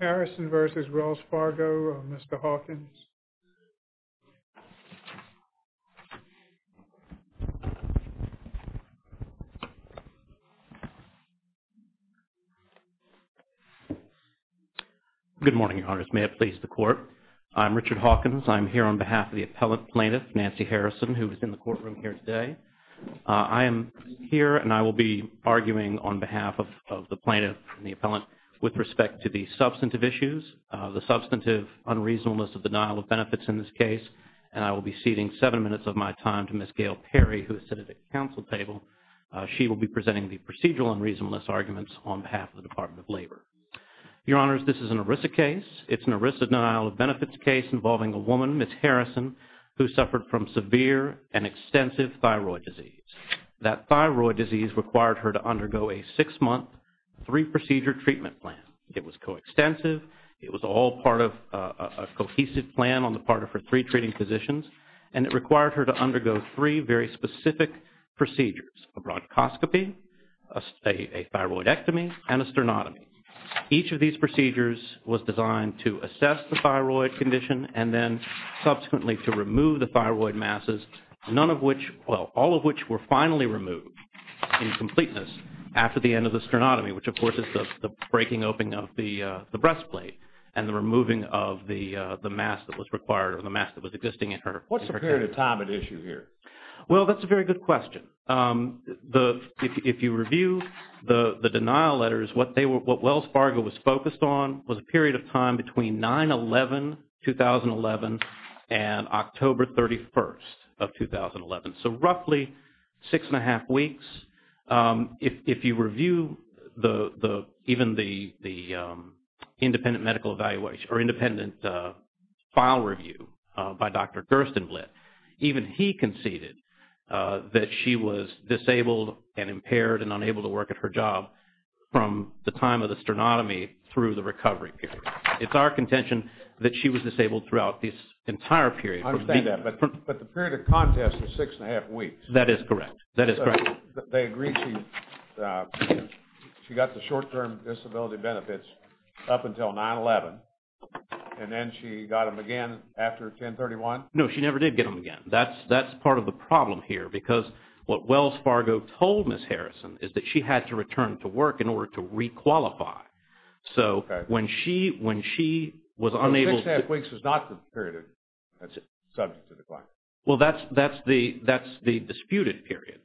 Harrison v. Wells Fargo, Mr. Hawkins. Good morning, Your Honors. May it please the Court. I'm Richard Hawkins. I'm here on behalf of the Appellant Plaintiff, Nancy Harrison, who is in the courtroom here today. I am here and I will be addressing the substantive issues, the substantive unreasonableness of the denial of benefits in this case, and I will be ceding seven minutes of my time to Ms. Gail Perry, who is sitting at the counsel table. She will be presenting the procedural unreasonableness arguments on behalf of the Department of Labor. Your Honors, this is an ERISA case. It's an ERISA denial of benefits case involving a woman, Ms. Harrison, who suffered from severe and extensive thyroid disease. That thyroid disease required her to undergo a six-month, three-procedure treatment plan. It was coextensive. It was all part of a cohesive plan on the part of her three treating physicians, and it required her to undergo three very specific procedures, a bronchoscopy, a thyroidectomy, and a sternotomy. Each of these procedures was designed to assess the thyroid condition and then subsequently to remove the thyroid masses, none of which, well, all of which were finally removed in completeness after the end of the sternotomy, which of course is the breaking open of the breastplate and the removing of the mass that was required or the mass that was existing in her. What's the period of time at issue here? Well, that's a very good question. If you review the denial letters, what Wells Fargo was focused on was a period of time between 9-11-2011 and October 31st of 2011, so roughly six and a half weeks. If you review even the independent medical evaluation or independent file review by Dr. Gerstenblatt, even he conceded that she was disabled and impaired and unable to work at her job from the time of the sternotomy through the recovery period. It's our contention that she was disabled throughout this entire period. I understand that, but the period of contest was six and a half weeks. That is correct. That is correct. They agreed she got the short-term disability benefits up until 9-11, and then she got them again after 10-31? No, she never did get them again. That's part of the problem here because what Wells Fargo told Ms. Harrison is that she had to return to work in order to requalify. So when she was unable... Six and a half weeks was not the period of substantive requalification. Well, that's the disputed period.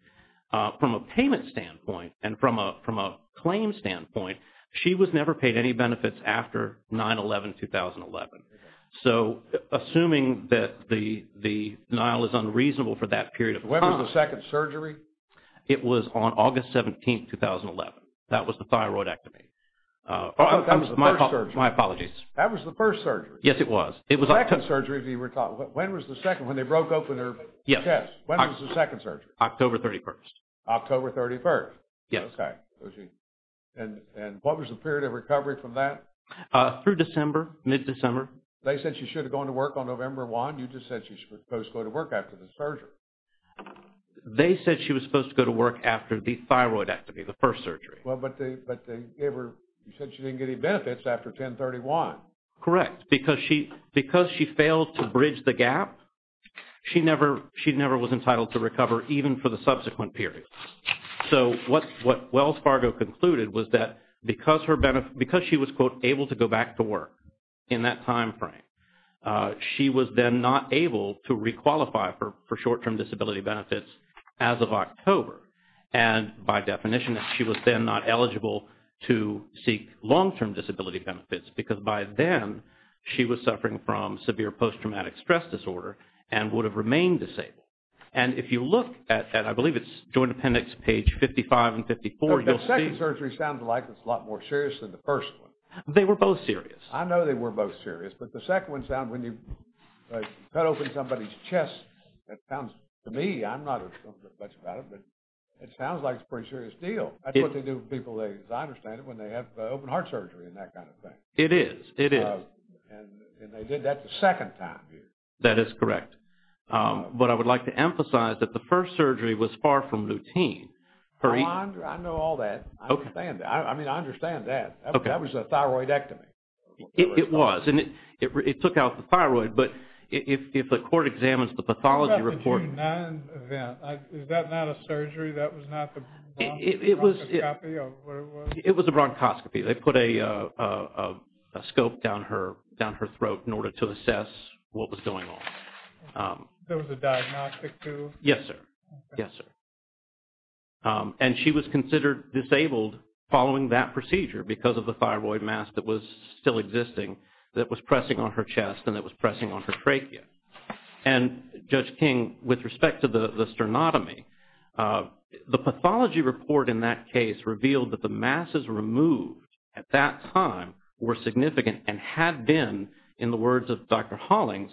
From a payment standpoint and from a claim standpoint, she was never paid any benefits after 9-11-2011. So assuming that the denial is unreasonable for that period of time... When was the second surgery? It was on August 17th, 2011. That was the thyroidectomy. Oh, that was the first surgery. My apologies. That was the first surgery. Yes, it was. The second surgery, when was the second? When they broke open her chest, when was the second surgery? October 31st. October 31st. Yes. And what was the period of recovery from that? Through December, mid-December. They said she should have gone to work on November 1. You just said she was supposed to go to work after the surgery. They said she was supposed to go to work after the thyroidectomy, the first surgery. Well, but they gave her... You said she didn't get any benefits after 10-31. Correct. Because she failed to bridge the gap, she never was entitled to recover even for the subsequent period. So what Wells Fargo concluded was that because she was, quote, able to go back to work in that time frame, she was then not able to requalify for short-term disability benefits as of October. And by definition, she was then not eligible to seek long-term disability benefits because by then, she was suffering from severe post-traumatic stress disorder and would have remained disabled. And if you look at, I believe it's Joint Appendix page 55 and 54, you'll see... The second surgery sounds like it's a lot more serious than the first one. They were both serious. I know they were both serious, but the second one sounds... When you cut open somebody's chest, that sounds... To me, I'm not much about it, but it sounds like it's a pretty serious deal. That's what they do with people, as I understand it, when they have open heart surgery and that kind of thing. It is. It is. And they did that the second time. That is correct. But I would like to emphasize that the first surgery was far from routine. I know all that. I understand that. I mean, I understand that. That was a thyroidectomy. It was. And it took out the thyroid, but if the court examines the pathology report... Is that not a surgery? That was not the bronchoscopy of what it was? It was a bronchoscopy. They put a scope down her throat in order to assess what was going on. There was a diagnostic too? Yes, sir. Yes, sir. And she was considered disabled following that procedure because of the thyroid mass that was still existing that was pressing on her chest and that was pressing on her trachea. And Judge King, with respect to the sternotomy, the pathology report in that case revealed that the masses removed at that time were significant and had been, in the words of Dr. Hollings,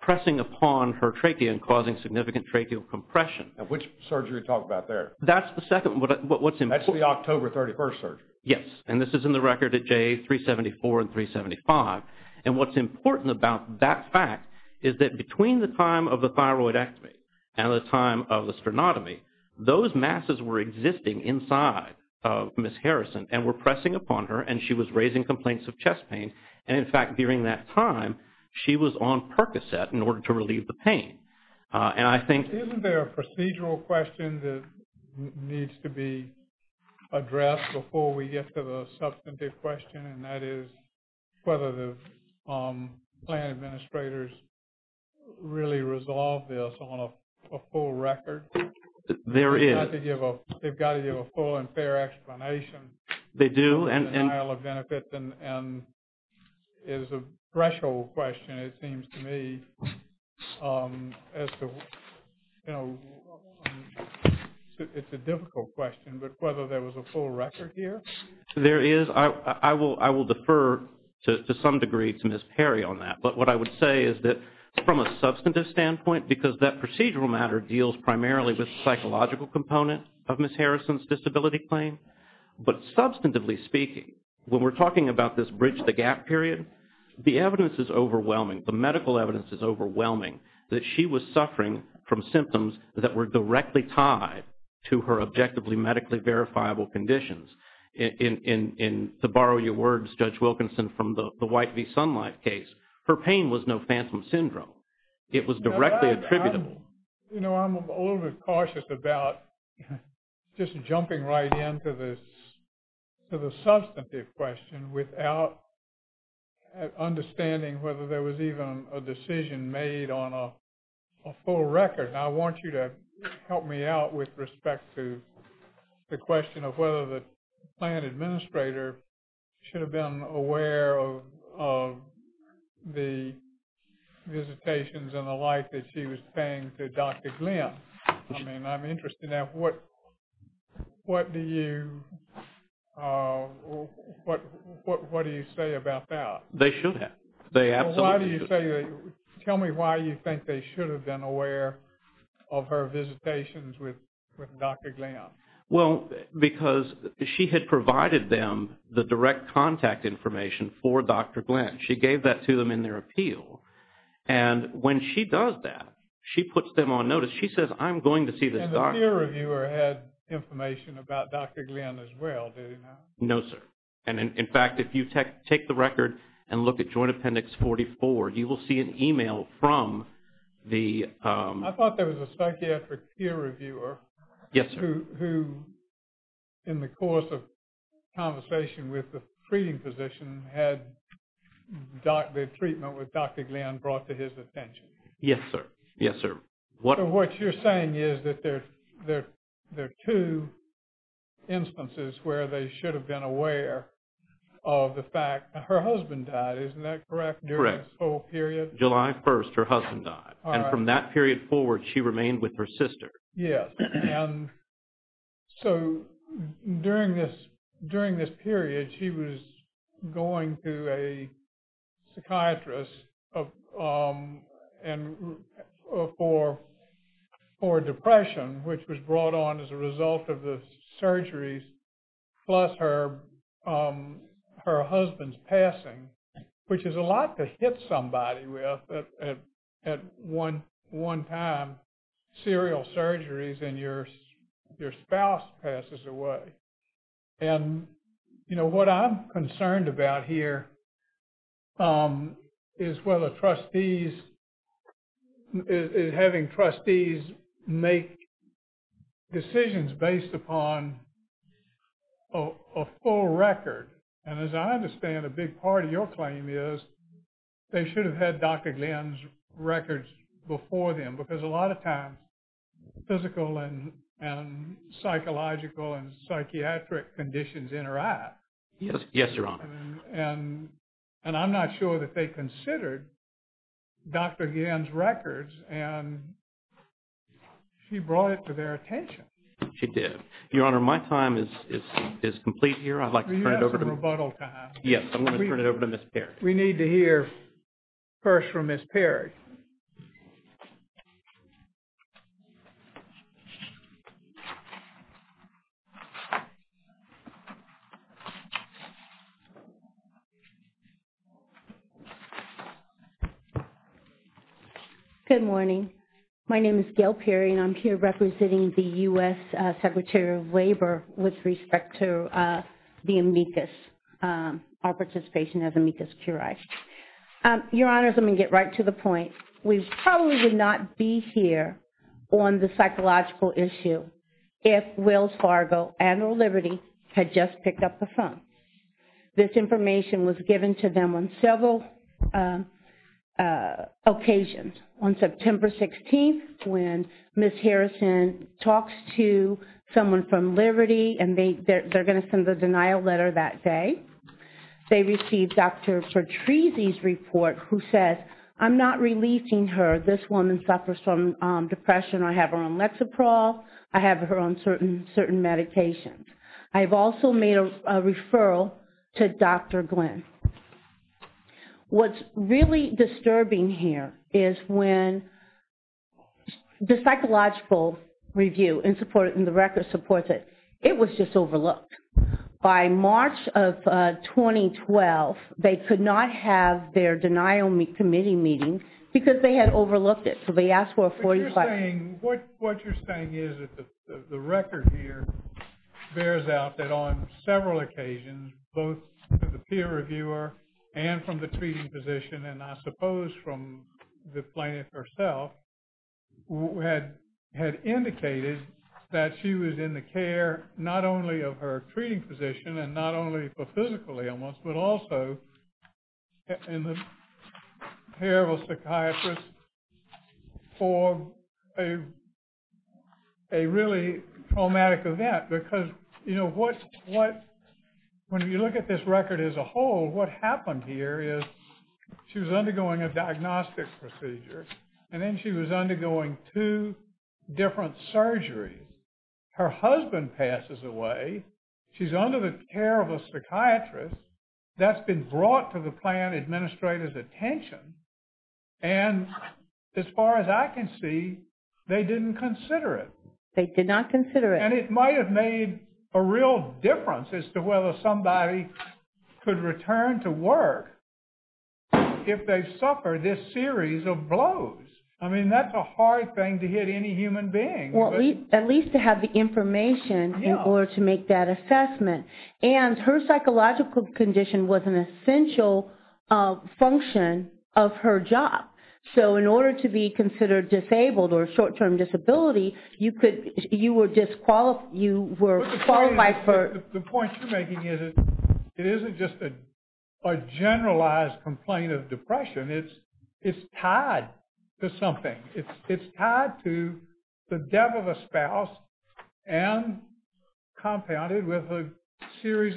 pressing upon her trachea and causing significant tracheal compression. Which surgery are you talking about there? That's the second. What's important... That's the October 31st surgery. Yes. And this is in the record at J374 and 375. And what's important about that fact is that between the time of the thyroidectomy and the time of the sternotomy, those masses were existing inside of Ms. Harrison and were pressing upon her and she was raising complaints of chest pain. And in fact, during that time, she was on Percocet in order to relieve the pain. And I think... There's a procedural question that needs to be addressed before we get to the substantive question and that is whether the plan administrators really resolve this on a full record. There is. They've got to give a full and fair explanation. They do. And... The denial of benefits is a threshold question, it seems to me, as to... It's a difficult question, but whether there was a full record here? There is. I will defer to some degree to Ms. Perry on that. But what I would say is that from a substantive standpoint, because that procedural matter deals primarily with when we're talking about this bridge the gap period, the evidence is overwhelming. The medical evidence is overwhelming that she was suffering from symptoms that were directly tied to her objectively medically verifiable conditions. And to borrow your words, Judge Wilkinson, from the White v. Sunlight case, her pain was no phantom syndrome. It was directly attributable. You know, I'm a little bit cautious about just jumping right into this to the substantive question without understanding whether there was even a decision made on a full record. And I want you to help me out with respect to the question of whether the plan administrator should have been aware of the visitations and the like that she was paying to Dr. Glenn. I mean, I'm interested in that. What do you say about that? They should have. They absolutely should. Why do you say that? Tell me why you think they should have been aware of her visitations with Dr. Glenn. Well, because she had provided them the direct contact information for Dr. Glenn. She gave that to them in their appeal. And when she does that, she puts them on notice. She says, I'm going to see this doctor. And the peer reviewer had information about Dr. Glenn as well, did he not? No, sir. And in fact, if you take the record and look at Joint Appendix 44, you will see an email from the... I thought there was a psychiatric peer reviewer... Yes, sir. ...who, in the course of conversation with the treating physician, had the treatment with Dr. Glenn brought to his attention. Yes, sir. Yes, sir. What you're saying is that there are two instances where they should have been aware of the fact that her husband died, isn't that correct, during this whole period? Correct. July 1st, her husband died. And from that period forward, she remained with her sister. Yes. And so during this period, she was going to a psychiatrist for depression, which was brought on as a result of the surgeries, plus her husband's passing, which is a lot to hit somebody with at one time, serial surgeries and your spouse passes away. And, you know, what I'm concerned about here is whether trustees, having trustees make decisions based upon a full record. And as I understand, a big part of your claim is they should have had Dr. Glenn's records before them, because a lot of times, physical and psychological and psychiatric conditions interact. Yes. Yes, Your Honor. And I'm not sure that they considered Dr. Glenn's records and she brought it to their attention. She did. Your Honor, my time is complete here. I'd like to turn it over to Ms. Perry. We need to hear first from Ms. Perry. Good morning. My name is Gail Perry and I'm here representing the U.S. Secretary of Labor with respect to the amicus, our participation as amicus curiae. Your Honor, let me get right to the point. We probably would not be here on the psychological issue if Wells Fargo and or Liberty had just picked up the phone. This information was given to them on several occasions. On September 16th, when Ms. Harrison talks to someone from Liberty and they're going to send a denial letter that day, they received Dr. Patrizia's report who said, I'm not releasing her. This woman suffers from depression. I have her on Lexaprol. I have her on certain medications. I've also made a referral to Dr. Glenn. What's really disturbing here is when the psychological review and support and the record supports it, it was just overlooked. By March of 2012, they could not have their denial committee meeting because they had overlooked it. So they asked for a 45- But you're saying, what you're saying is that the record here bears out that on several occasions, both to the peer reviewer and from the treating physician, and I suppose from the plaintiff herself, had indicated that she was in the care, not only of her treating physician and not only for physical ailments, but also in the care of a psychiatrist for a really traumatic event. Because when you look at this record as a whole, what happened here is she was undergoing a diagnostic procedure and then she was undergoing two different surgeries. Her husband passes away. She's under the care of a psychiatrist that's been brought to the plan administrator's attention. And as far as I can see, they didn't consider it. They did not consider it. And it might have made a real difference as to whether somebody could return to work if they suffer this series of blows. I mean, that's a hard thing to hit any human being. Well, at least to have the information in order to make that assessment. And her psychological condition was an essential function of her job. So in order to be considered disabled or short-term disability, you were disqualified. You were followed by her. The point you're making is it isn't just a generalized complaint of depression. It's tied to something. It's tied to the death of a spouse and compounded with a series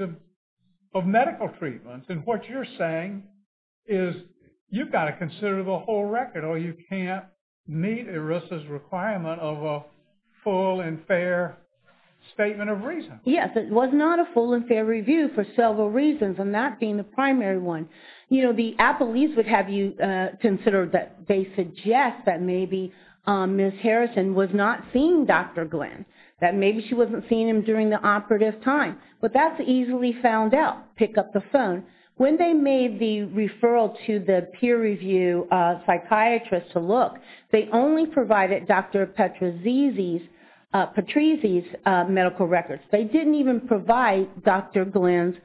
of medical treatments. And what you're saying is you've got to consider the whole record or you can't meet ERISA's requirement of a full and fair statement of reason. Yes. It was not a full and fair review for several reasons, and that being the primary one. You know, the appellees would have you consider that they suggest that maybe Ms. Harrison was not seeing Dr. Glenn, that maybe she wasn't seeing him during the operative time. But that's easily found out. Pick up the phone. When they made the referral to the peer review psychiatrist to look, they only provided Dr. Petrizzi's medical records. They didn't even provide Dr. Glenn's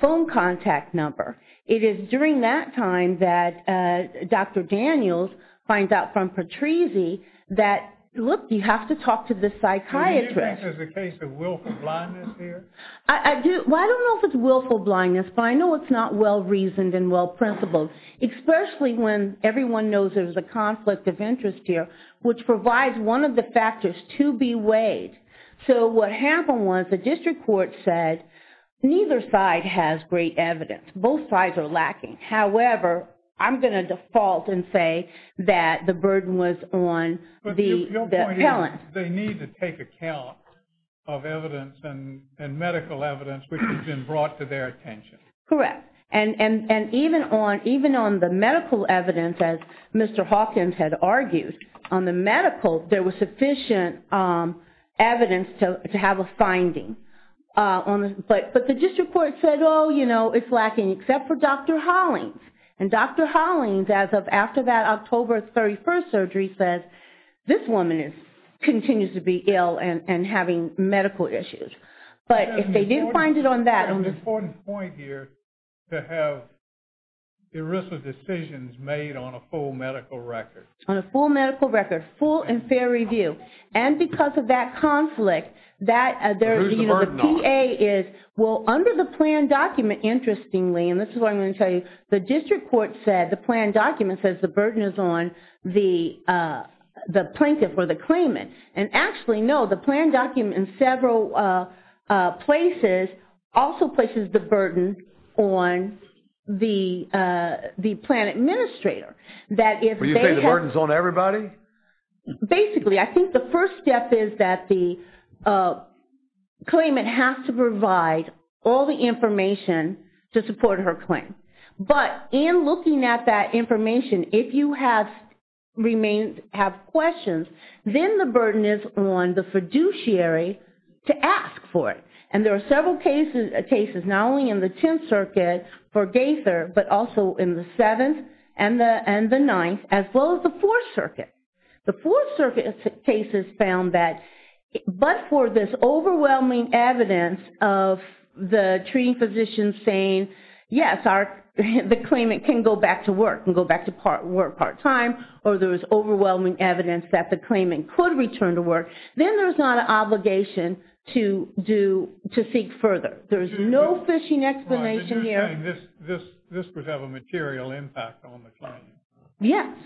phone contact number. It is during that time that Dr. Daniels finds out from Petrizzi that, look, you have to talk to this psychiatrist. Do you think this is a case of willful blindness here? Well, I don't know if it's willful blindness, but I know it's not well reasoned and well principled, especially when everyone knows there's a conflict of interest here, which provides one of the factors to be weighed. So what happened was the district court said, neither side has great evidence. Both sides are lacking. However, I'm going to default and say that the burden was on the appellant. They need to take account of evidence and medical evidence which has been brought to their attention. Correct. And even on the medical evidence, as Mr. Hawkins had argued, on the medical, there was sufficient evidence to have a finding. But the district court said, oh, it's lacking, except for Dr. Hollings. And Dr. Hollings, as of after that October 31st surgery, says, this woman continues to be ill and having medical issues. But if they didn't find it on that- An important point here to have ERISA decisions made on a full medical record. On a full medical record, full and fair review. And because of that conflict, the PA is, well, under the plan document, interestingly, and this is what I'm going to tell you, the district court said, the plan document says the burden is on the plaintiff or the claimant. And actually, no, the plan document in several places also places the burden on the plan That if they have- You're saying the burden's on everybody? Basically. I think the first step is that the claimant has to provide all the information to support her claim. But in looking at that information, if you have questions, then the burden is on the fiduciary to ask for it. And there are several cases, not only in the 10th circuit for Gaither, but also in the 7th and the 9th, as well as the 4th circuit. The 4th circuit cases found that, but for this overwhelming evidence of the treating physician saying, yes, the claimant can go back to work and go back to work part-time, or there's overwhelming evidence that the claimant could return to work, then there's not an obligation to seek further. There's no fishing explanation here. You're saying this would have a material impact on the claim? Yes.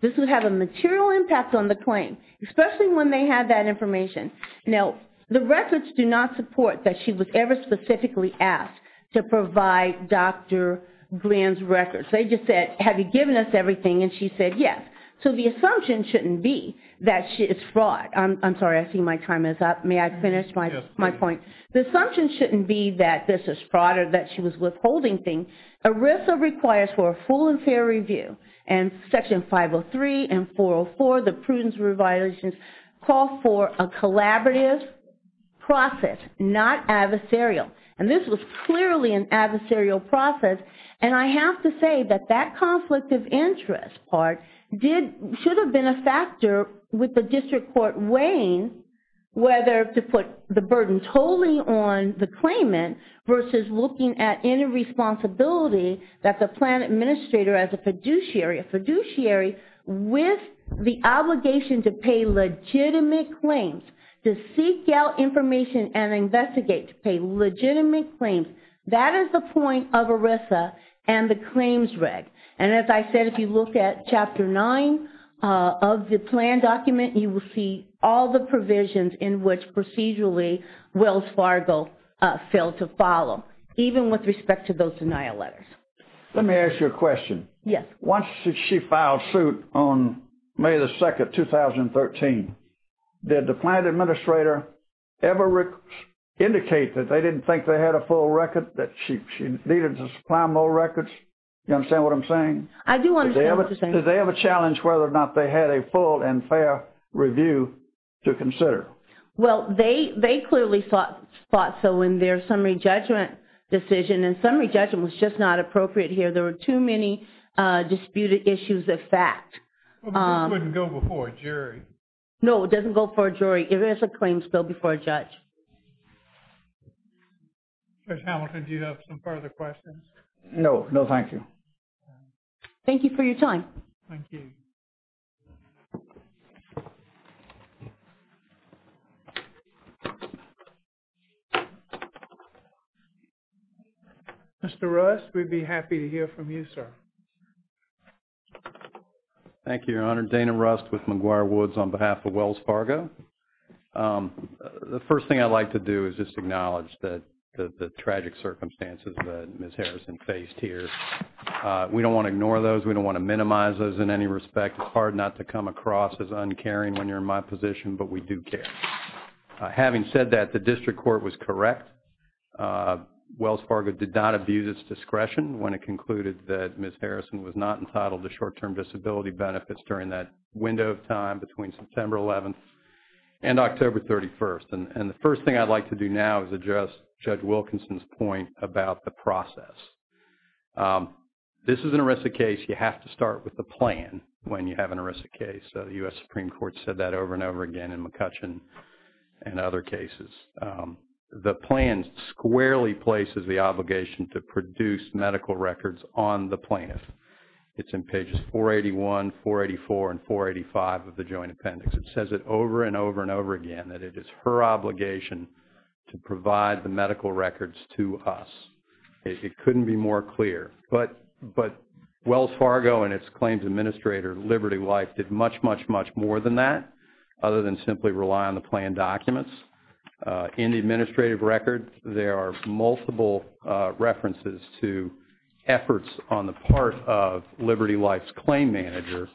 This would have a material impact on the claim, especially when they have that information. Now, the records do not support that she was ever specifically asked to provide Dr. Glenn's records. They just said, have you given us everything? And she said, yes. So the assumption shouldn't be that it's fraud. I'm sorry. I see my time is up. May I finish my point? The assumption shouldn't be that this is fraud or that she was withholding things. ERISA requires for a full and fair review. And Section 503 and 404, the prudence reviolations, call for a collaborative process, not adversarial. And this was clearly an adversarial process. And I have to say that that conflict of interest part should have been a factor with the district court weighing whether to put the burden totally on the claimant versus looking at any responsibility that the plan administrator as a fiduciary, a fiduciary with the obligation to pay legitimate claims, to seek out information and investigate to pay legitimate claims. That is the point of ERISA and the claims reg. And as I said, if you look at Chapter 9 of the plan document, you will see all the provisions in which procedurally Wells Fargo failed to follow, even with respect to those denial letters. Let me ask you a question. Yes. Once she filed suit on May 2, 2013, did the plan administrator ever indicate that they didn't think they had a full record, that she needed to supply more records? You understand what I'm saying? I do understand what you're saying. Did they ever challenge whether or not they had a full and fair review to consider? Well, they clearly thought so in their summary judgment decision. And summary judgment was just not appropriate here. There were too many disputed issues of fact. It wouldn't go before a jury. No, it doesn't go before a jury. It is a claims bill before a judge. Judge Hamilton, do you have some further questions? No. No, thank you. Thank you for your time. Thank you. Mr. Rust, we'd be happy to hear from you, sir. Thank you, Your Honor. Dana Rust with McGuire Woods on behalf of Wells Fargo. The first thing I'd like to do is just acknowledge the tragic circumstances that Ms. Harrison faced here. We don't want to ignore those. We don't want to minimize those in any respect. It's hard not to come across as uncaring when you're in my position, but we do care. Having said that, the district court was correct. Wells Fargo did not abuse its discretion when it concluded that Ms. Harrison was not entitled to short-term disability benefits during that window of time between September 11th and October 31st. And the first thing I'd like to do now is address Judge Wilkinson's point about the process. This is an erisic case. You have to start with the plan when you have an erisic case. The U.S. Supreme Court said that over and over again in McCutcheon and other cases. The plan squarely places the obligation to produce medical records on the plaintiff. It's in pages 481, 484, and 485 of the Joint Appendix. It says it over and over and over again that it is her obligation to provide the medical records to us. It couldn't be more clear. But Wells Fargo and its claims administrator, Liberty Life, did much, much, much more than that other than simply rely on the plan documents. In the administrative record, there are multiple references to efforts on the part of Liberty Life's claim manager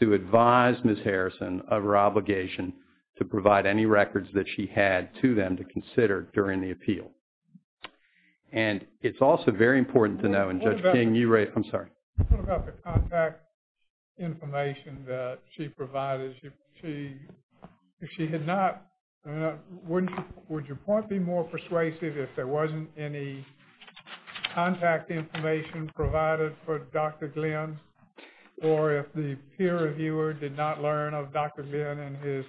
to advise Ms. Harrison of her obligation to provide any records that she had to them to consider during the appeal. And it's also very important to know, and Judge King, you raised, I'm sorry. What about the contact information that she provided? If she had not, would your point be more persuasive if there wasn't any contact information provided for Dr. Glenn or if the peer reviewer did not learn of Dr. Glenn and his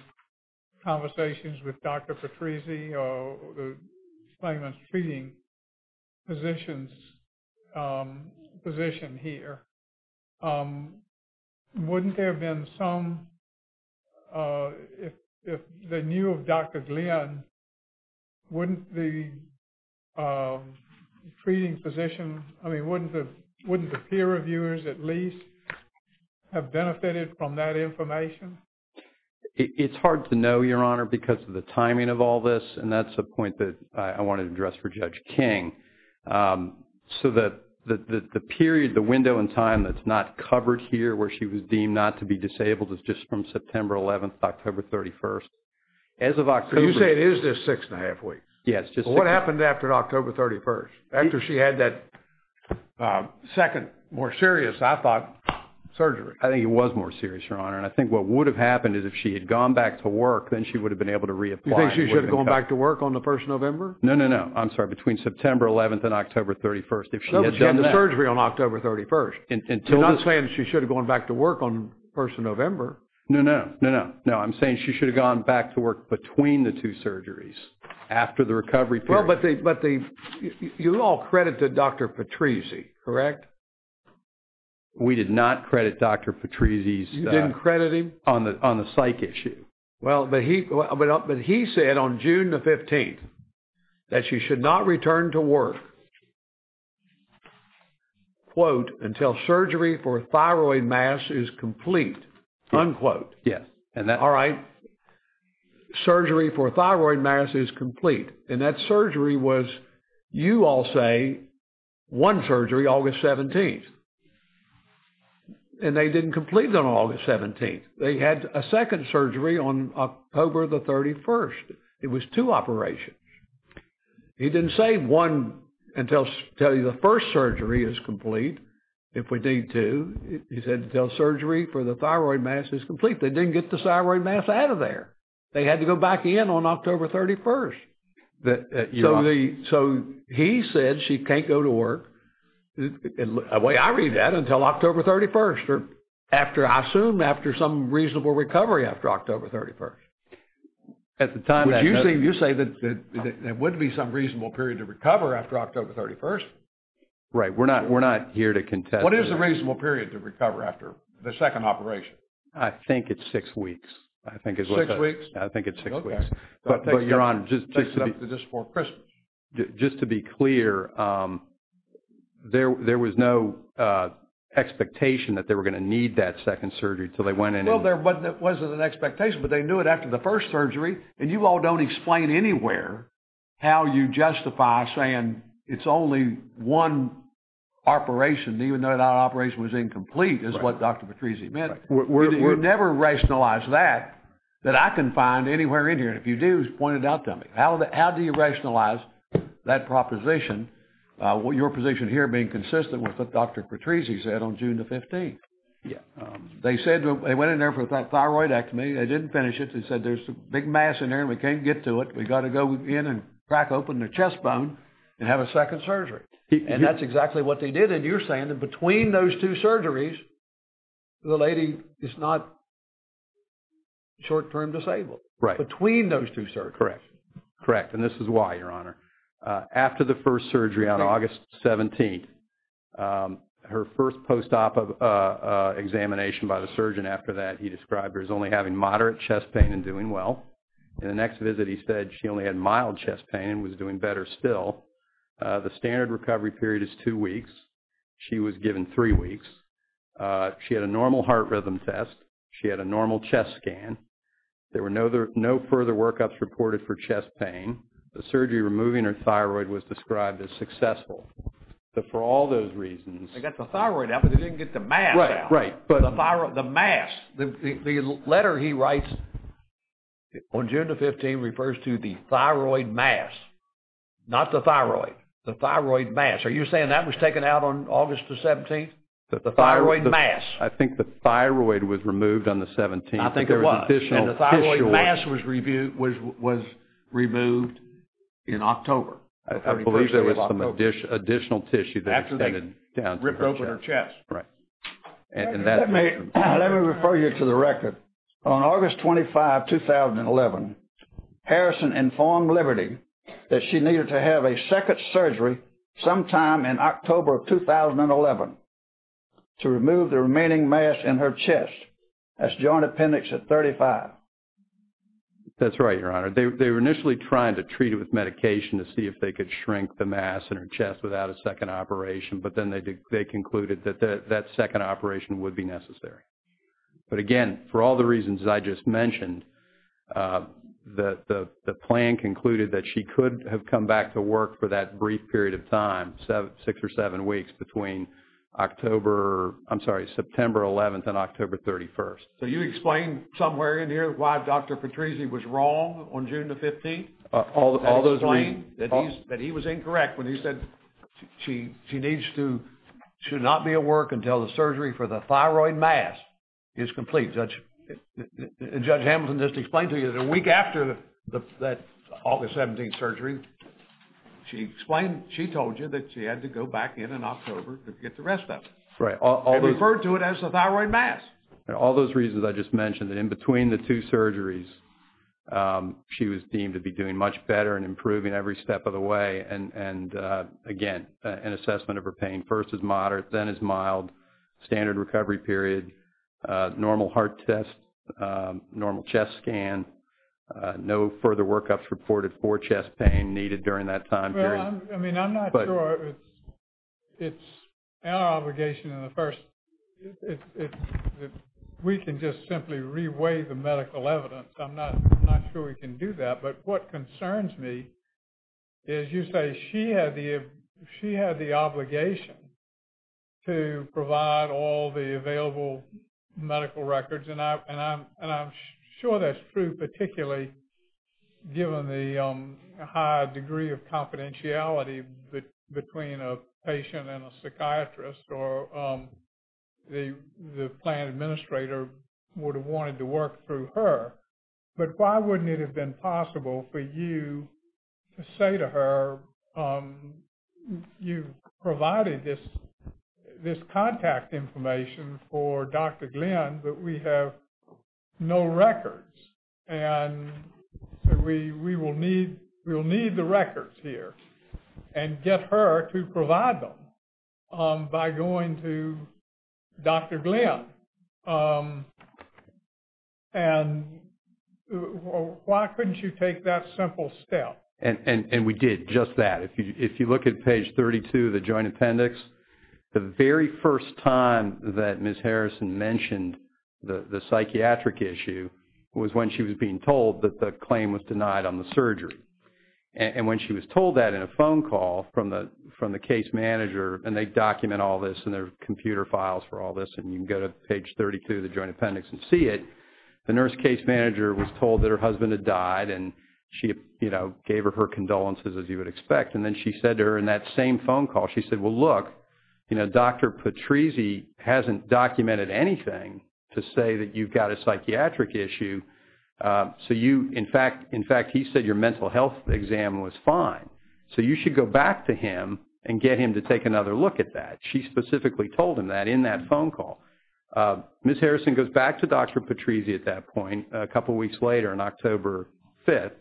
conversations with Dr. Patrizzi or the claimant's treating physician here? Wouldn't there have been some, if they knew of Dr. Glenn, wouldn't the treating physician, I mean, wouldn't the peer reviewers at least have benefited from that information? It's hard to know, Your Honor, because of the timing of all this. And that's a point that I wanted to address for Judge King. So the period, the window in time that's not covered here where she was deemed not to be disabled is just from September 11th to October 31st. As of October- So you say it is just six and a half weeks? Yes, just- What happened after October 31st? After she had that second, more serious, I thought, surgery? I think it was more serious, Your Honor. And I think what would have happened is if she had gone back to work, then she would have been able to reapply. You think she should have gone back to work on the 1st of November? No, no, no. I'm sorry. Between September 11th and October 31st, if she had done that- No, but she had the surgery on October 31st. Until this- You're not saying she should have gone back to work on 1st of November. No, no, no. No, I'm saying she should have gone back to work between the two surgeries after the recovery period. We did not credit Dr. Patrizzi's- You didn't credit him? On the psych issue. Well, but he said on June the 15th that she should not return to work until surgery for thyroid mass is complete, unquote. Yes, and that- All right, surgery for thyroid mass is complete. And that surgery was, you all say, one surgery, August 17th. And they didn't complete it on August 17th. They had a second surgery on October the 31st. It was two operations. He didn't say one until the first surgery is complete, if we need to. He said until surgery for the thyroid mass is complete. They didn't get the thyroid mass out of there. They had to go back in on October 31st. So he said she can't go to work. The way I read that, until October 31st or after, I assume, after some reasonable recovery after October 31st. At the time that- Would you say that there would be some reasonable period to recover after October 31st? Right, we're not here to contest- What is the reasonable period to recover after the second operation? I think it's six weeks. I think it's- Six weeks? I think it's six weeks. But your honor, just to be- Just before Christmas. Just to be clear, there was no expectation that they were going to need that second surgery until they went in and- Well, there wasn't an expectation, but they knew it after the first surgery. And you all don't explain anywhere how you justify saying it's only one operation, even though that operation was incomplete, is what Dr. Patrizzi meant. We never rationalize that, that I can find anywhere in here. And if you do, just point it out to me. How do you rationalize that proposition, your position here being consistent with what Dr. Patrizzi said on June the 15th? Yeah. They said they went in there for a thyroid ectomy. They didn't finish it. They said there's a big mass in there and we can't get to it. We got to go in and crack open their chest bone and have a second surgery. And that's exactly what they did. And you're saying that between those two surgeries, the lady is not short-term disabled. Right. Between those two surgeries. Correct. Correct. And this is why, Your Honor, after the first surgery on August 17th, her first post-op examination by the surgeon after that, he described her as only having moderate chest pain and doing well. In the next visit, he said she only had mild chest pain and was doing better still. The standard recovery period is two weeks. She was given three weeks. She had a normal heart rhythm test. She had a normal chest scan. There were no further workups reported for chest pain. The surgery removing her thyroid was described as successful. So for all those reasons. They got the thyroid out, but they didn't get the mass out. Right. But the mass, the letter he writes on June the 15th refers to the thyroid mass. Not the thyroid. The thyroid mass. Are you saying that was taken out on August the 17th? The thyroid mass. I think the thyroid was removed on the 17th. And the thyroid mass was removed in October. I believe there was some additional tissue. After they ripped open her chest. Right. Let me refer you to the record. On August 25, 2011, Harrison informed Liberty that she needed to have a second surgery sometime in October of 2011 to remove the remaining mass in her chest as joint appendix at 35. That's right, Your Honor. They were initially trying to treat it with medication to see if they could shrink the mass in her chest without a second operation. But then they concluded that that second operation would be necessary. But again, for all the reasons I just mentioned, the plan concluded that she could have come back to work for that brief period of time, six or seven weeks between October. I'm sorry, September 11th and October 31st. So you explain somewhere in here why Dr. Patrizzi was wrong on June the 15th? All those reasons. That he was incorrect when he said she needs to, should not be at work until the surgery for the thyroid mass is complete. Judge Hamilton just explained to you that a week after that August 17th surgery, she explained, she told you that she had to go back in in October to get the rest of it. They referred to it as the thyroid mass. All those reasons I just mentioned. And in between the two surgeries, she was deemed to be doing much better and improving every step of the way. And again, an assessment of her pain, first as moderate, then as mild, standard recovery period, normal heart test, normal chest scan, no further workups reported for chest pain needed during that time period. I mean, I'm not sure it's our obligation in the first, we can just simply reweigh the medical evidence. I'm not sure we can do that. But what concerns me is you say she had the obligation to provide all the available medical records. And I'm sure that's true, particularly given the high degree of confidentiality between a patient and a psychiatrist or the plan administrator would have wanted to work through her. But why wouldn't it have been possible for you to say to her, you provided this contact information for Dr. Glenn, but we have no records and we will need the records here and get her to provide them by going to Dr. Glenn. And why couldn't you take that simple step? And we did just that. If you look at page 32 of the Joint Appendix, the very first time that Ms. Harrison mentioned the psychiatric issue was when she was being told that the claim was denied on the surgery. And when she was told that in a phone call from the case manager, and they document all this in their computer files for all this, and you can go to page 32 of the Joint Appendix and see it, the nurse case manager was told that her husband had died and she gave her her condolences as you would expect. And then she said to her in that same phone call, she said, well, look, Dr. Patrizzi hasn't documented anything to say that you've got a psychiatric issue. So you, in fact, he said your mental health exam was fine. So you should go back to him and get him to take another look at that. She specifically told him that in that phone call. Ms. Harrison goes back to Dr. Patrizzi at that point a couple weeks later on October 5th,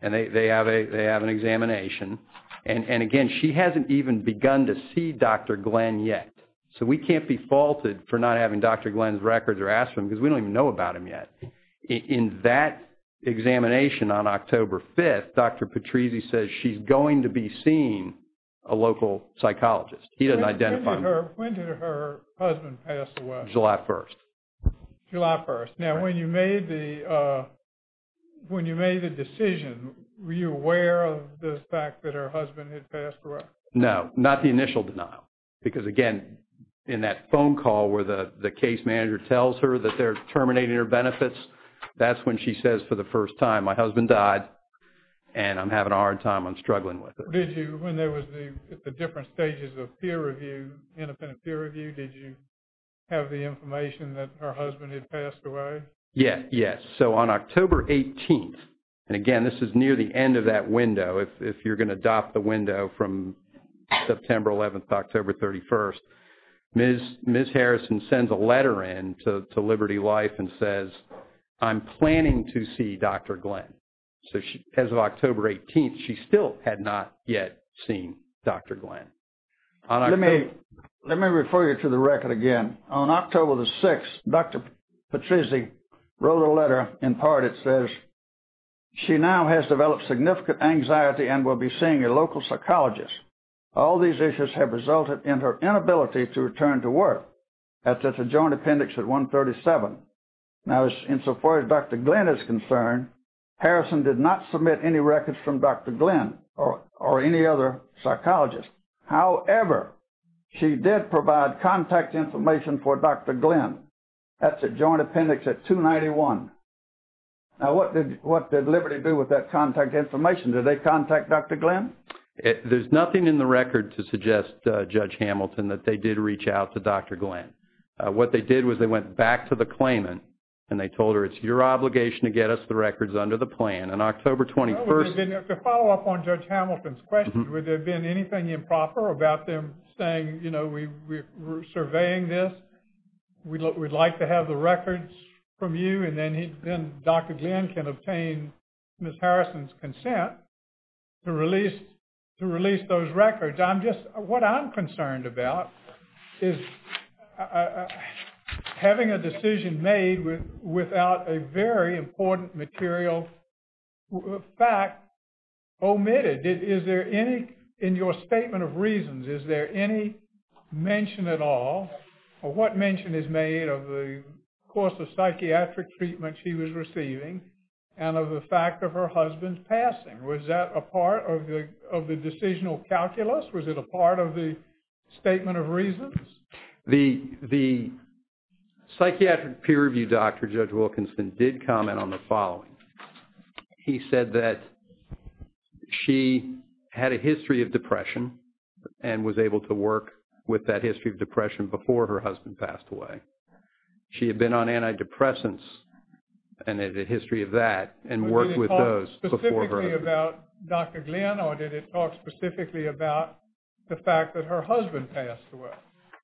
and they have an examination. And again, she hasn't even begun to see Dr. Glenn yet. So we can't be faulted for not having Dr. Glenn's records or ask him because we don't even know about him yet. In that examination on October 5th, Dr. Patrizzi says she's going to be seeing a local psychologist. He doesn't identify. When did her husband pass away? July 1st. July 1st. Now, when you made the decision, were you aware of the fact that her husband had passed away? No, not the initial denial. Because again, in that phone call where the case manager tells her that they're terminating her benefits, that's when she says for the first time, my husband died and I'm having a hard time. I'm struggling with it. Did you, when there was the different stages of peer review, independent peer review, did you have the information that her husband had passed away? Yeah, yes. So on October 18th, and again, this is near the end of that window, if you're going to adopt the window from September 11th to October 31st, Ms. Harrison sends a letter in to Liberty Life and says, I'm planning to see Dr. Glenn. So as of October 18th, she still had not yet seen Dr. Glenn. Let me refer you to the record again. On October 6th, Dr. Patrizzi wrote a letter, in part it says, she now has developed significant anxiety and will be seeing a local psychologist. All these issues have resulted in her inability to return to work. That's a joint appendix at 137. Now, insofar as Dr. Glenn is concerned, Harrison did not submit any records from Dr. Glenn or any other psychologist. However, she did provide contact information for Dr. Glenn. That's a joint appendix at 291. Now, what did Liberty do with that contact information? Did they contact Dr. Glenn? There's nothing in the record to suggest, Judge Hamilton, that they did reach out to Dr. Glenn. What they did was they went back to the claimant, and they told her, it's your obligation to get us the records under the plan. On October 21st... To follow up on Judge Hamilton's question, would there have been anything improper about them saying, we're surveying this, we'd like to have the records from you, and then Dr. Glenn can obtain Ms. Harrison's consent to release those records. What I'm concerned about is having a decision made without a very important material fact omitted. In your statement of reasons, is there any mention at all, or what mention is made of the course of psychiatric treatment she was receiving and of the fact of her husband's passing? Was that a part of the decisional calculus? Was it a part of the statement of reasons? The psychiatric peer review doctor, Judge Wilkinson, did comment on the following. He said that she had a history of depression and was able to work with that history of depression before her husband passed away. She had been on antidepressants, and had a history of that, and worked with those before her... Did it talk specifically about Dr. Glenn, or did it talk specifically about the fact that her husband passed away?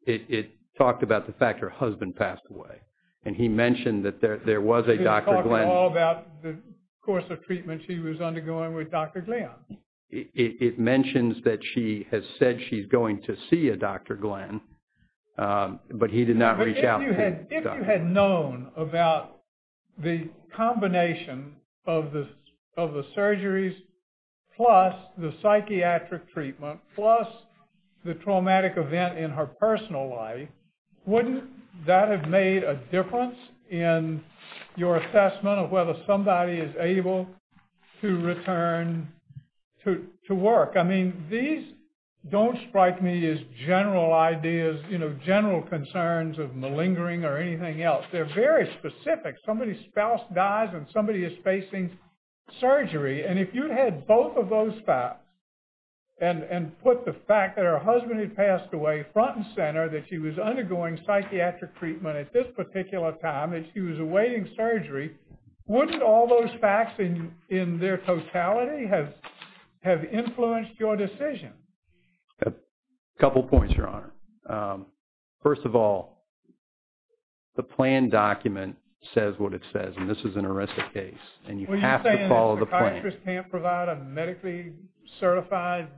It talked about the fact her husband passed away. And he mentioned that there was a Dr. Glenn... The course of treatment she was undergoing with Dr. Glenn. It mentions that she has said she's going to see a Dr. Glenn, but he did not reach out to Dr. Glenn. If you had known about the combination of the surgeries, plus the psychiatric treatment, plus the traumatic event in her personal life, wouldn't that have made a difference in your assessment of whether somebody is able to return to work? I mean, these don't strike me as general ideas, general concerns of malingering or anything else. They're very specific. Somebody's spouse dies, and somebody is facing surgery. And if you had both of those facts, and put the fact that her husband had passed away front and center, that she was undergoing psychiatric treatment at this particular time, that she was awaiting surgery, wouldn't all those facts in their totality have influenced your decision? A couple of points, Your Honor. First of all, the plan document says what it says. And this is an arresting case. And you have to follow the plan. What are you saying, a psychiatrist can't provide a medically certified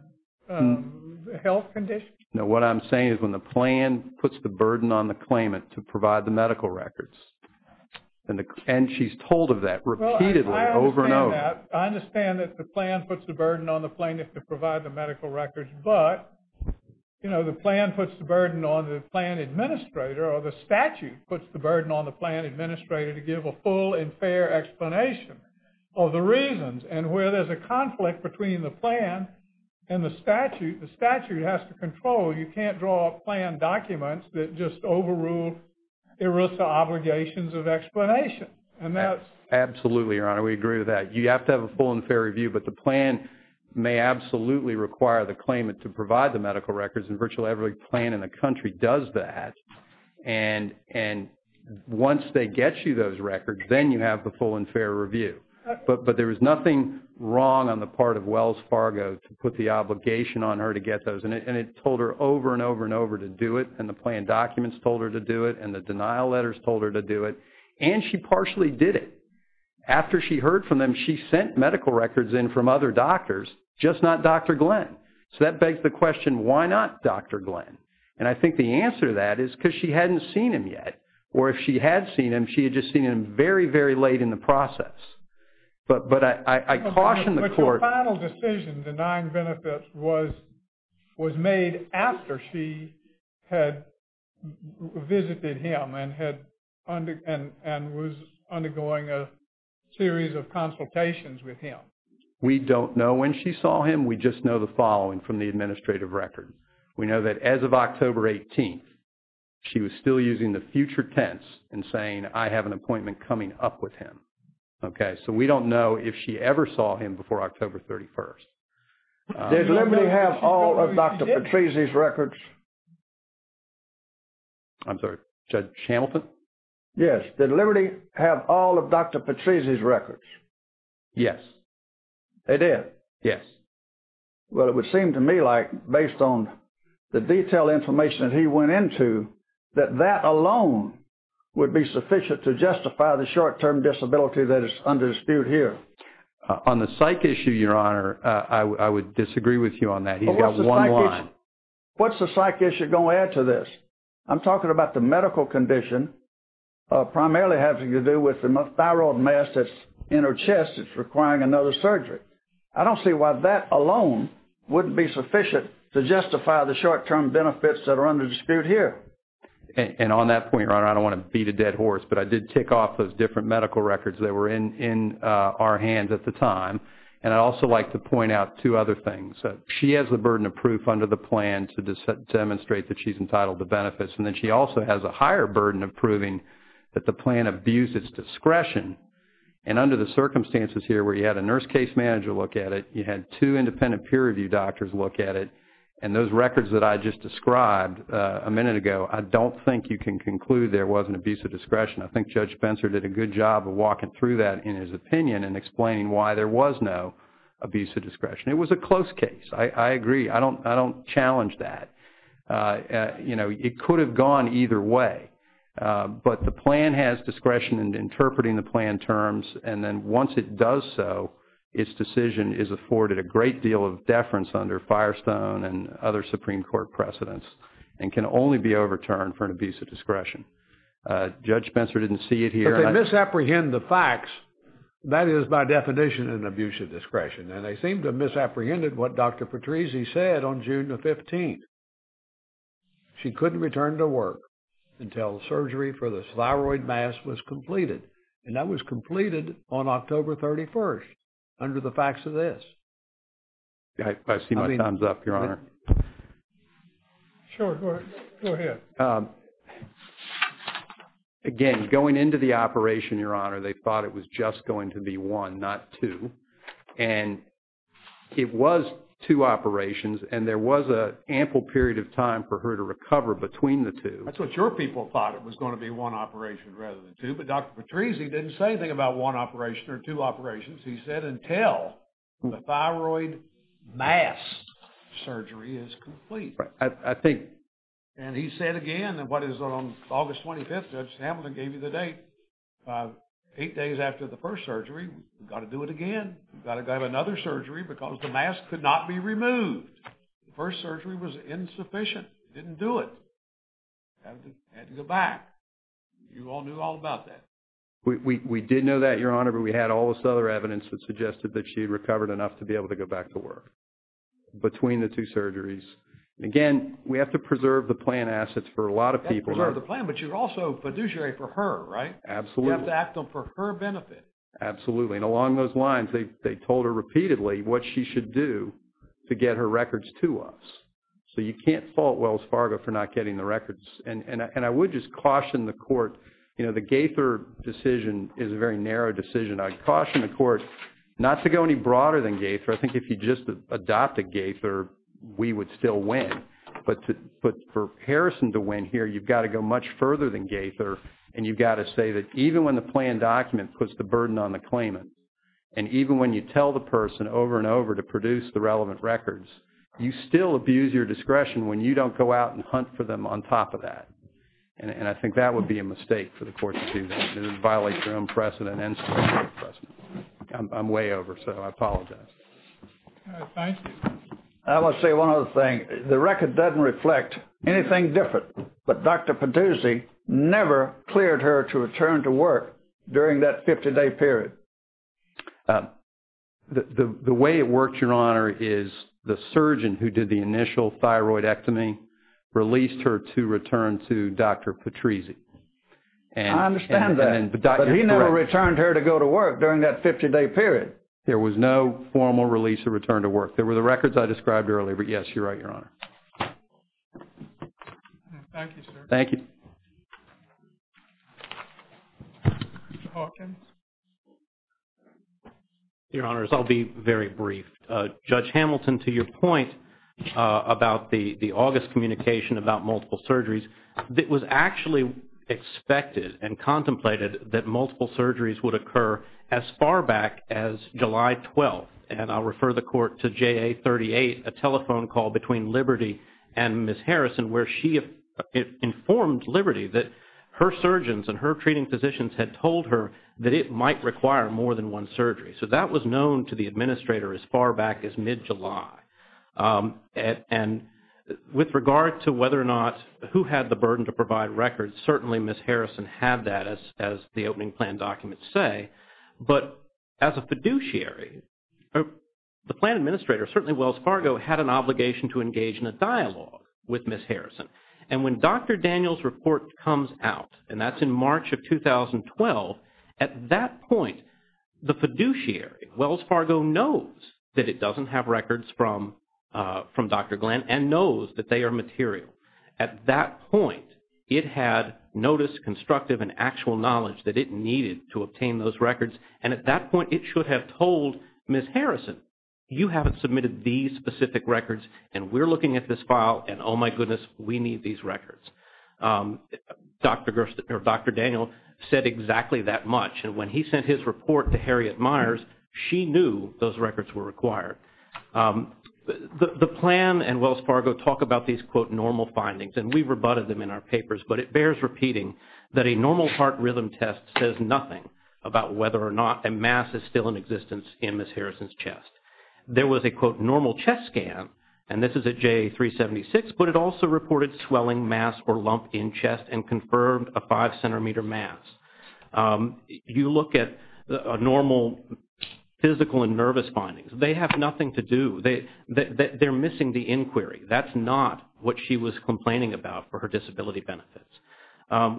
health condition? No, what I'm saying is when the plan puts the burden on the claimant to provide the medical records, and she's told of that repeatedly over and over. Well, I understand that. I understand that the plan puts the burden on the plaintiff to provide the medical records. But, you know, the plan puts the burden on the plan administrator, or the statute puts the burden on the plan administrator to give a full and fair explanation of the reasons. And where there's a conflict between the plan and the statute, the statute has to control. You can't draw a plan document that just overruled ERISA obligations of explanation. And that's... Absolutely, Your Honor. We agree with that. You have to have a full and fair review. But the plan may absolutely require the claimant to provide the medical records. And virtually every plan in the country does that. And once they get you those records, then you have the full and fair review. But there was nothing wrong on the part of Wells Fargo to put the obligation on her to get those. And it told her over and over and over to do it. And the plan documents told her to do it. And the denial letters told her to do it. And she partially did it. After she heard from them, she sent medical records in from other doctors, just not Dr. Glenn. So that begs the question, why not Dr. Glenn? And I think the answer to that is because she hadn't seen him yet. Or if she had seen him, she had just seen him very, very late in the process. But I caution the court... Was made after she had visited him and was undergoing a series of consultations with him. We don't know when she saw him. We just know the following from the administrative record. We know that as of October 18th, she was still using the future tense and saying, I have an appointment coming up with him. Okay. So we don't know if she ever saw him before October 31st. Did Liberty have all of Dr. Patrese's records? I'm sorry, Judge Hamilton? Yes. Did Liberty have all of Dr. Patrese's records? Yes. They did? Yes. Well, it would seem to me like, based on the detailed information that he went into, that that alone would be sufficient to justify the short-term disability that is under dispute here. On the psych issue, Your Honor, I would disagree with you on that. He's got one line. What's the psych issue going to add to this? I'm talking about the medical condition primarily having to do with the thyroid mass that's in her chest that's requiring another surgery. I don't see why that alone wouldn't be sufficient to justify the short-term benefits that are under dispute here. And on that point, Your Honor, I don't want to beat a dead horse, but I did tick off those medical records that were in our hands at the time. And I'd also like to point out two other things. She has the burden of proof under the plan to demonstrate that she's entitled to benefits. And then she also has a higher burden of proving that the plan abused its discretion. And under the circumstances here where you had a nurse case manager look at it, you had two independent peer review doctors look at it. And those records that I just described a minute ago, I don't think you can conclude there was an abuse of discretion. I think Judge Benser did a good job of walking through that in his opinion and explaining why there was no abuse of discretion. It was a close case. I agree. I don't challenge that. It could have gone either way. But the plan has discretion in interpreting the plan terms. And then once it does so, its decision is afforded a great deal of deference under Firestone Judge Benser didn't see it here. But they misapprehend the facts. That is by definition an abuse of discretion. And they seem to have misapprehended what Dr. Patrese said on June the 15th. She couldn't return to work until surgery for the thyroid mass was completed. And that was completed on October 31st under the facts of this. I see my time's up, Your Honor. Sure, go ahead. Again, going into the operation, Your Honor, they thought it was just going to be one, not two. And it was two operations. And there was an ample period of time for her to recover between the two. That's what your people thought. It was going to be one operation rather than two. But Dr. Patrese didn't say anything about one operation or two operations. He said until the thyroid mass surgery is complete. I think. And he said again, what is on August 25th, Judge Hamilton gave you the date. Eight days after the first surgery, we've got to do it again. We've got to have another surgery because the mass could not be removed. The first surgery was insufficient. Didn't do it. Had to go back. You all knew all about that. We did know that, Your Honor. But we had all this other evidence that suggested that she had recovered enough to be able to go back to work between the two surgeries. Again, we have to preserve the plan assets for a lot of people. You have to preserve the plan, but you're also fiduciary for her, right? Absolutely. You have to act for her benefit. Absolutely. And along those lines, they told her repeatedly what she should do to get her records to us. So you can't fault Wells Fargo for not getting the records. And I would just caution the court. The Gaither decision is a very narrow decision. I'd caution the court not to go any broader than Gaither. I think if you just adopted Gaither, we would still win. But for Harrison to win here, you've got to go much further than Gaither. And you've got to say that even when the plan document puts the burden on the claimant, and even when you tell the person over and over to produce the relevant records, you still abuse your discretion when you don't go out and hunt for them on top of that. And I think that would be a mistake for the court to do that. It would violate their own precedent and the Supreme Court precedent. I'm way over, so I apologize. Thank you. I want to say one other thing. The record doesn't reflect anything different. But Dr. Patrizzi never cleared her to return to work during that 50-day period. The way it worked, Your Honor, is the surgeon who did the initial thyroidectomy released her to return to Dr. Patrizzi. I understand that. But he never returned her to go to work during that 50-day period. There was no formal release or return to work. There were the records I described earlier. But yes, you're right, Your Honor. Thank you, sir. Thank you. Mr. Hawkins? Your Honors, I'll be very brief. Judge Hamilton, to your point about the August communication about multiple surgeries, it was actually expected and contemplated that multiple surgeries would occur as far back as July 12th. And I'll refer the Court to JA-38, a telephone call between Liberty and Ms. Harrison, where she informed Liberty that her surgeons and her treating physicians had told her that it might require more than one surgery. So that was known to the administrator as far back as mid-July. And with regard to whether or not who had the burden to provide records, certainly Ms. Harrison had that, as the opening plan documents say. But as a fiduciary, the plan administrator, certainly Wells Fargo, had an obligation to engage in a dialogue with Ms. Harrison. And when Dr. Daniels' report comes out, and that's in March of 2012, at that point, the fiduciary, Wells Fargo, knows that it doesn't have records from Dr. Glenn and knows that they are material. At that point, it had notice, constructive, and actual knowledge that it needed to obtain those records. And at that point, it should have told Ms. Harrison, you haven't submitted these specific records, and we're looking at this file, and oh my goodness, we need these records. Dr. Daniels said exactly that much. And when he sent his report to Harriet Myers, she knew those records were required. The plan and Wells Fargo talk about these, quote, normal findings, and we've rebutted them in our papers. But it bears repeating that a normal heart rhythm test says nothing about whether or not a mass is still in existence in Ms. Harrison's chest. There was a, quote, normal chest scan, and this is at J376, but it also reported swelling, mass, or lump in chest and confirmed a five centimeter mass. You look at a normal physical and nervous findings, they have nothing to do. They're missing the inquiry. That's not what she was complaining about for her disability benefits.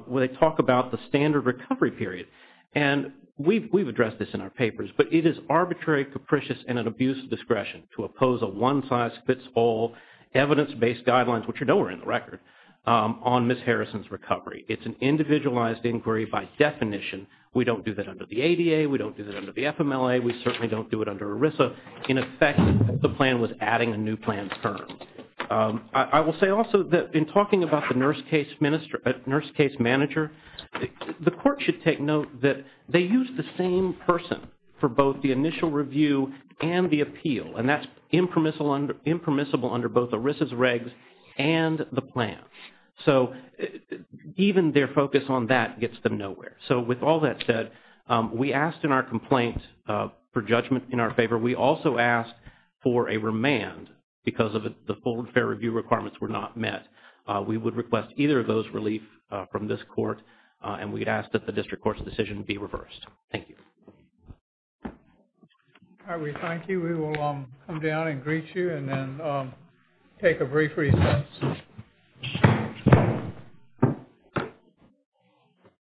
When they talk about the standard recovery period, and we've addressed this in our papers, but it is arbitrary, capricious, and an abuse of discretion to oppose a one-size-fits-all evidence-based guidelines, which are nowhere in the record, on Ms. Harrison's recovery. It's an individualized inquiry by definition. We don't do that under the ADA. We don't do that under the FMLA. We certainly don't do it under ERISA. In effect, the plan was adding a new plan term. I will say also that in talking about the nurse case manager, the court should take note that they use the same person for both the initial review and the appeal, and that's impermissible under both ERISA's regs and the plan. So even their focus on that gets them nowhere. So with all that said, we asked in our complaint for judgment in our favor. We also asked for a remand because the full and fair review requirements were not met. We would request either of those relief from this court, and we'd ask that the district court's decision be reversed. Thank you. All right, we thank you. We will come down and greet you and then take a brief recess.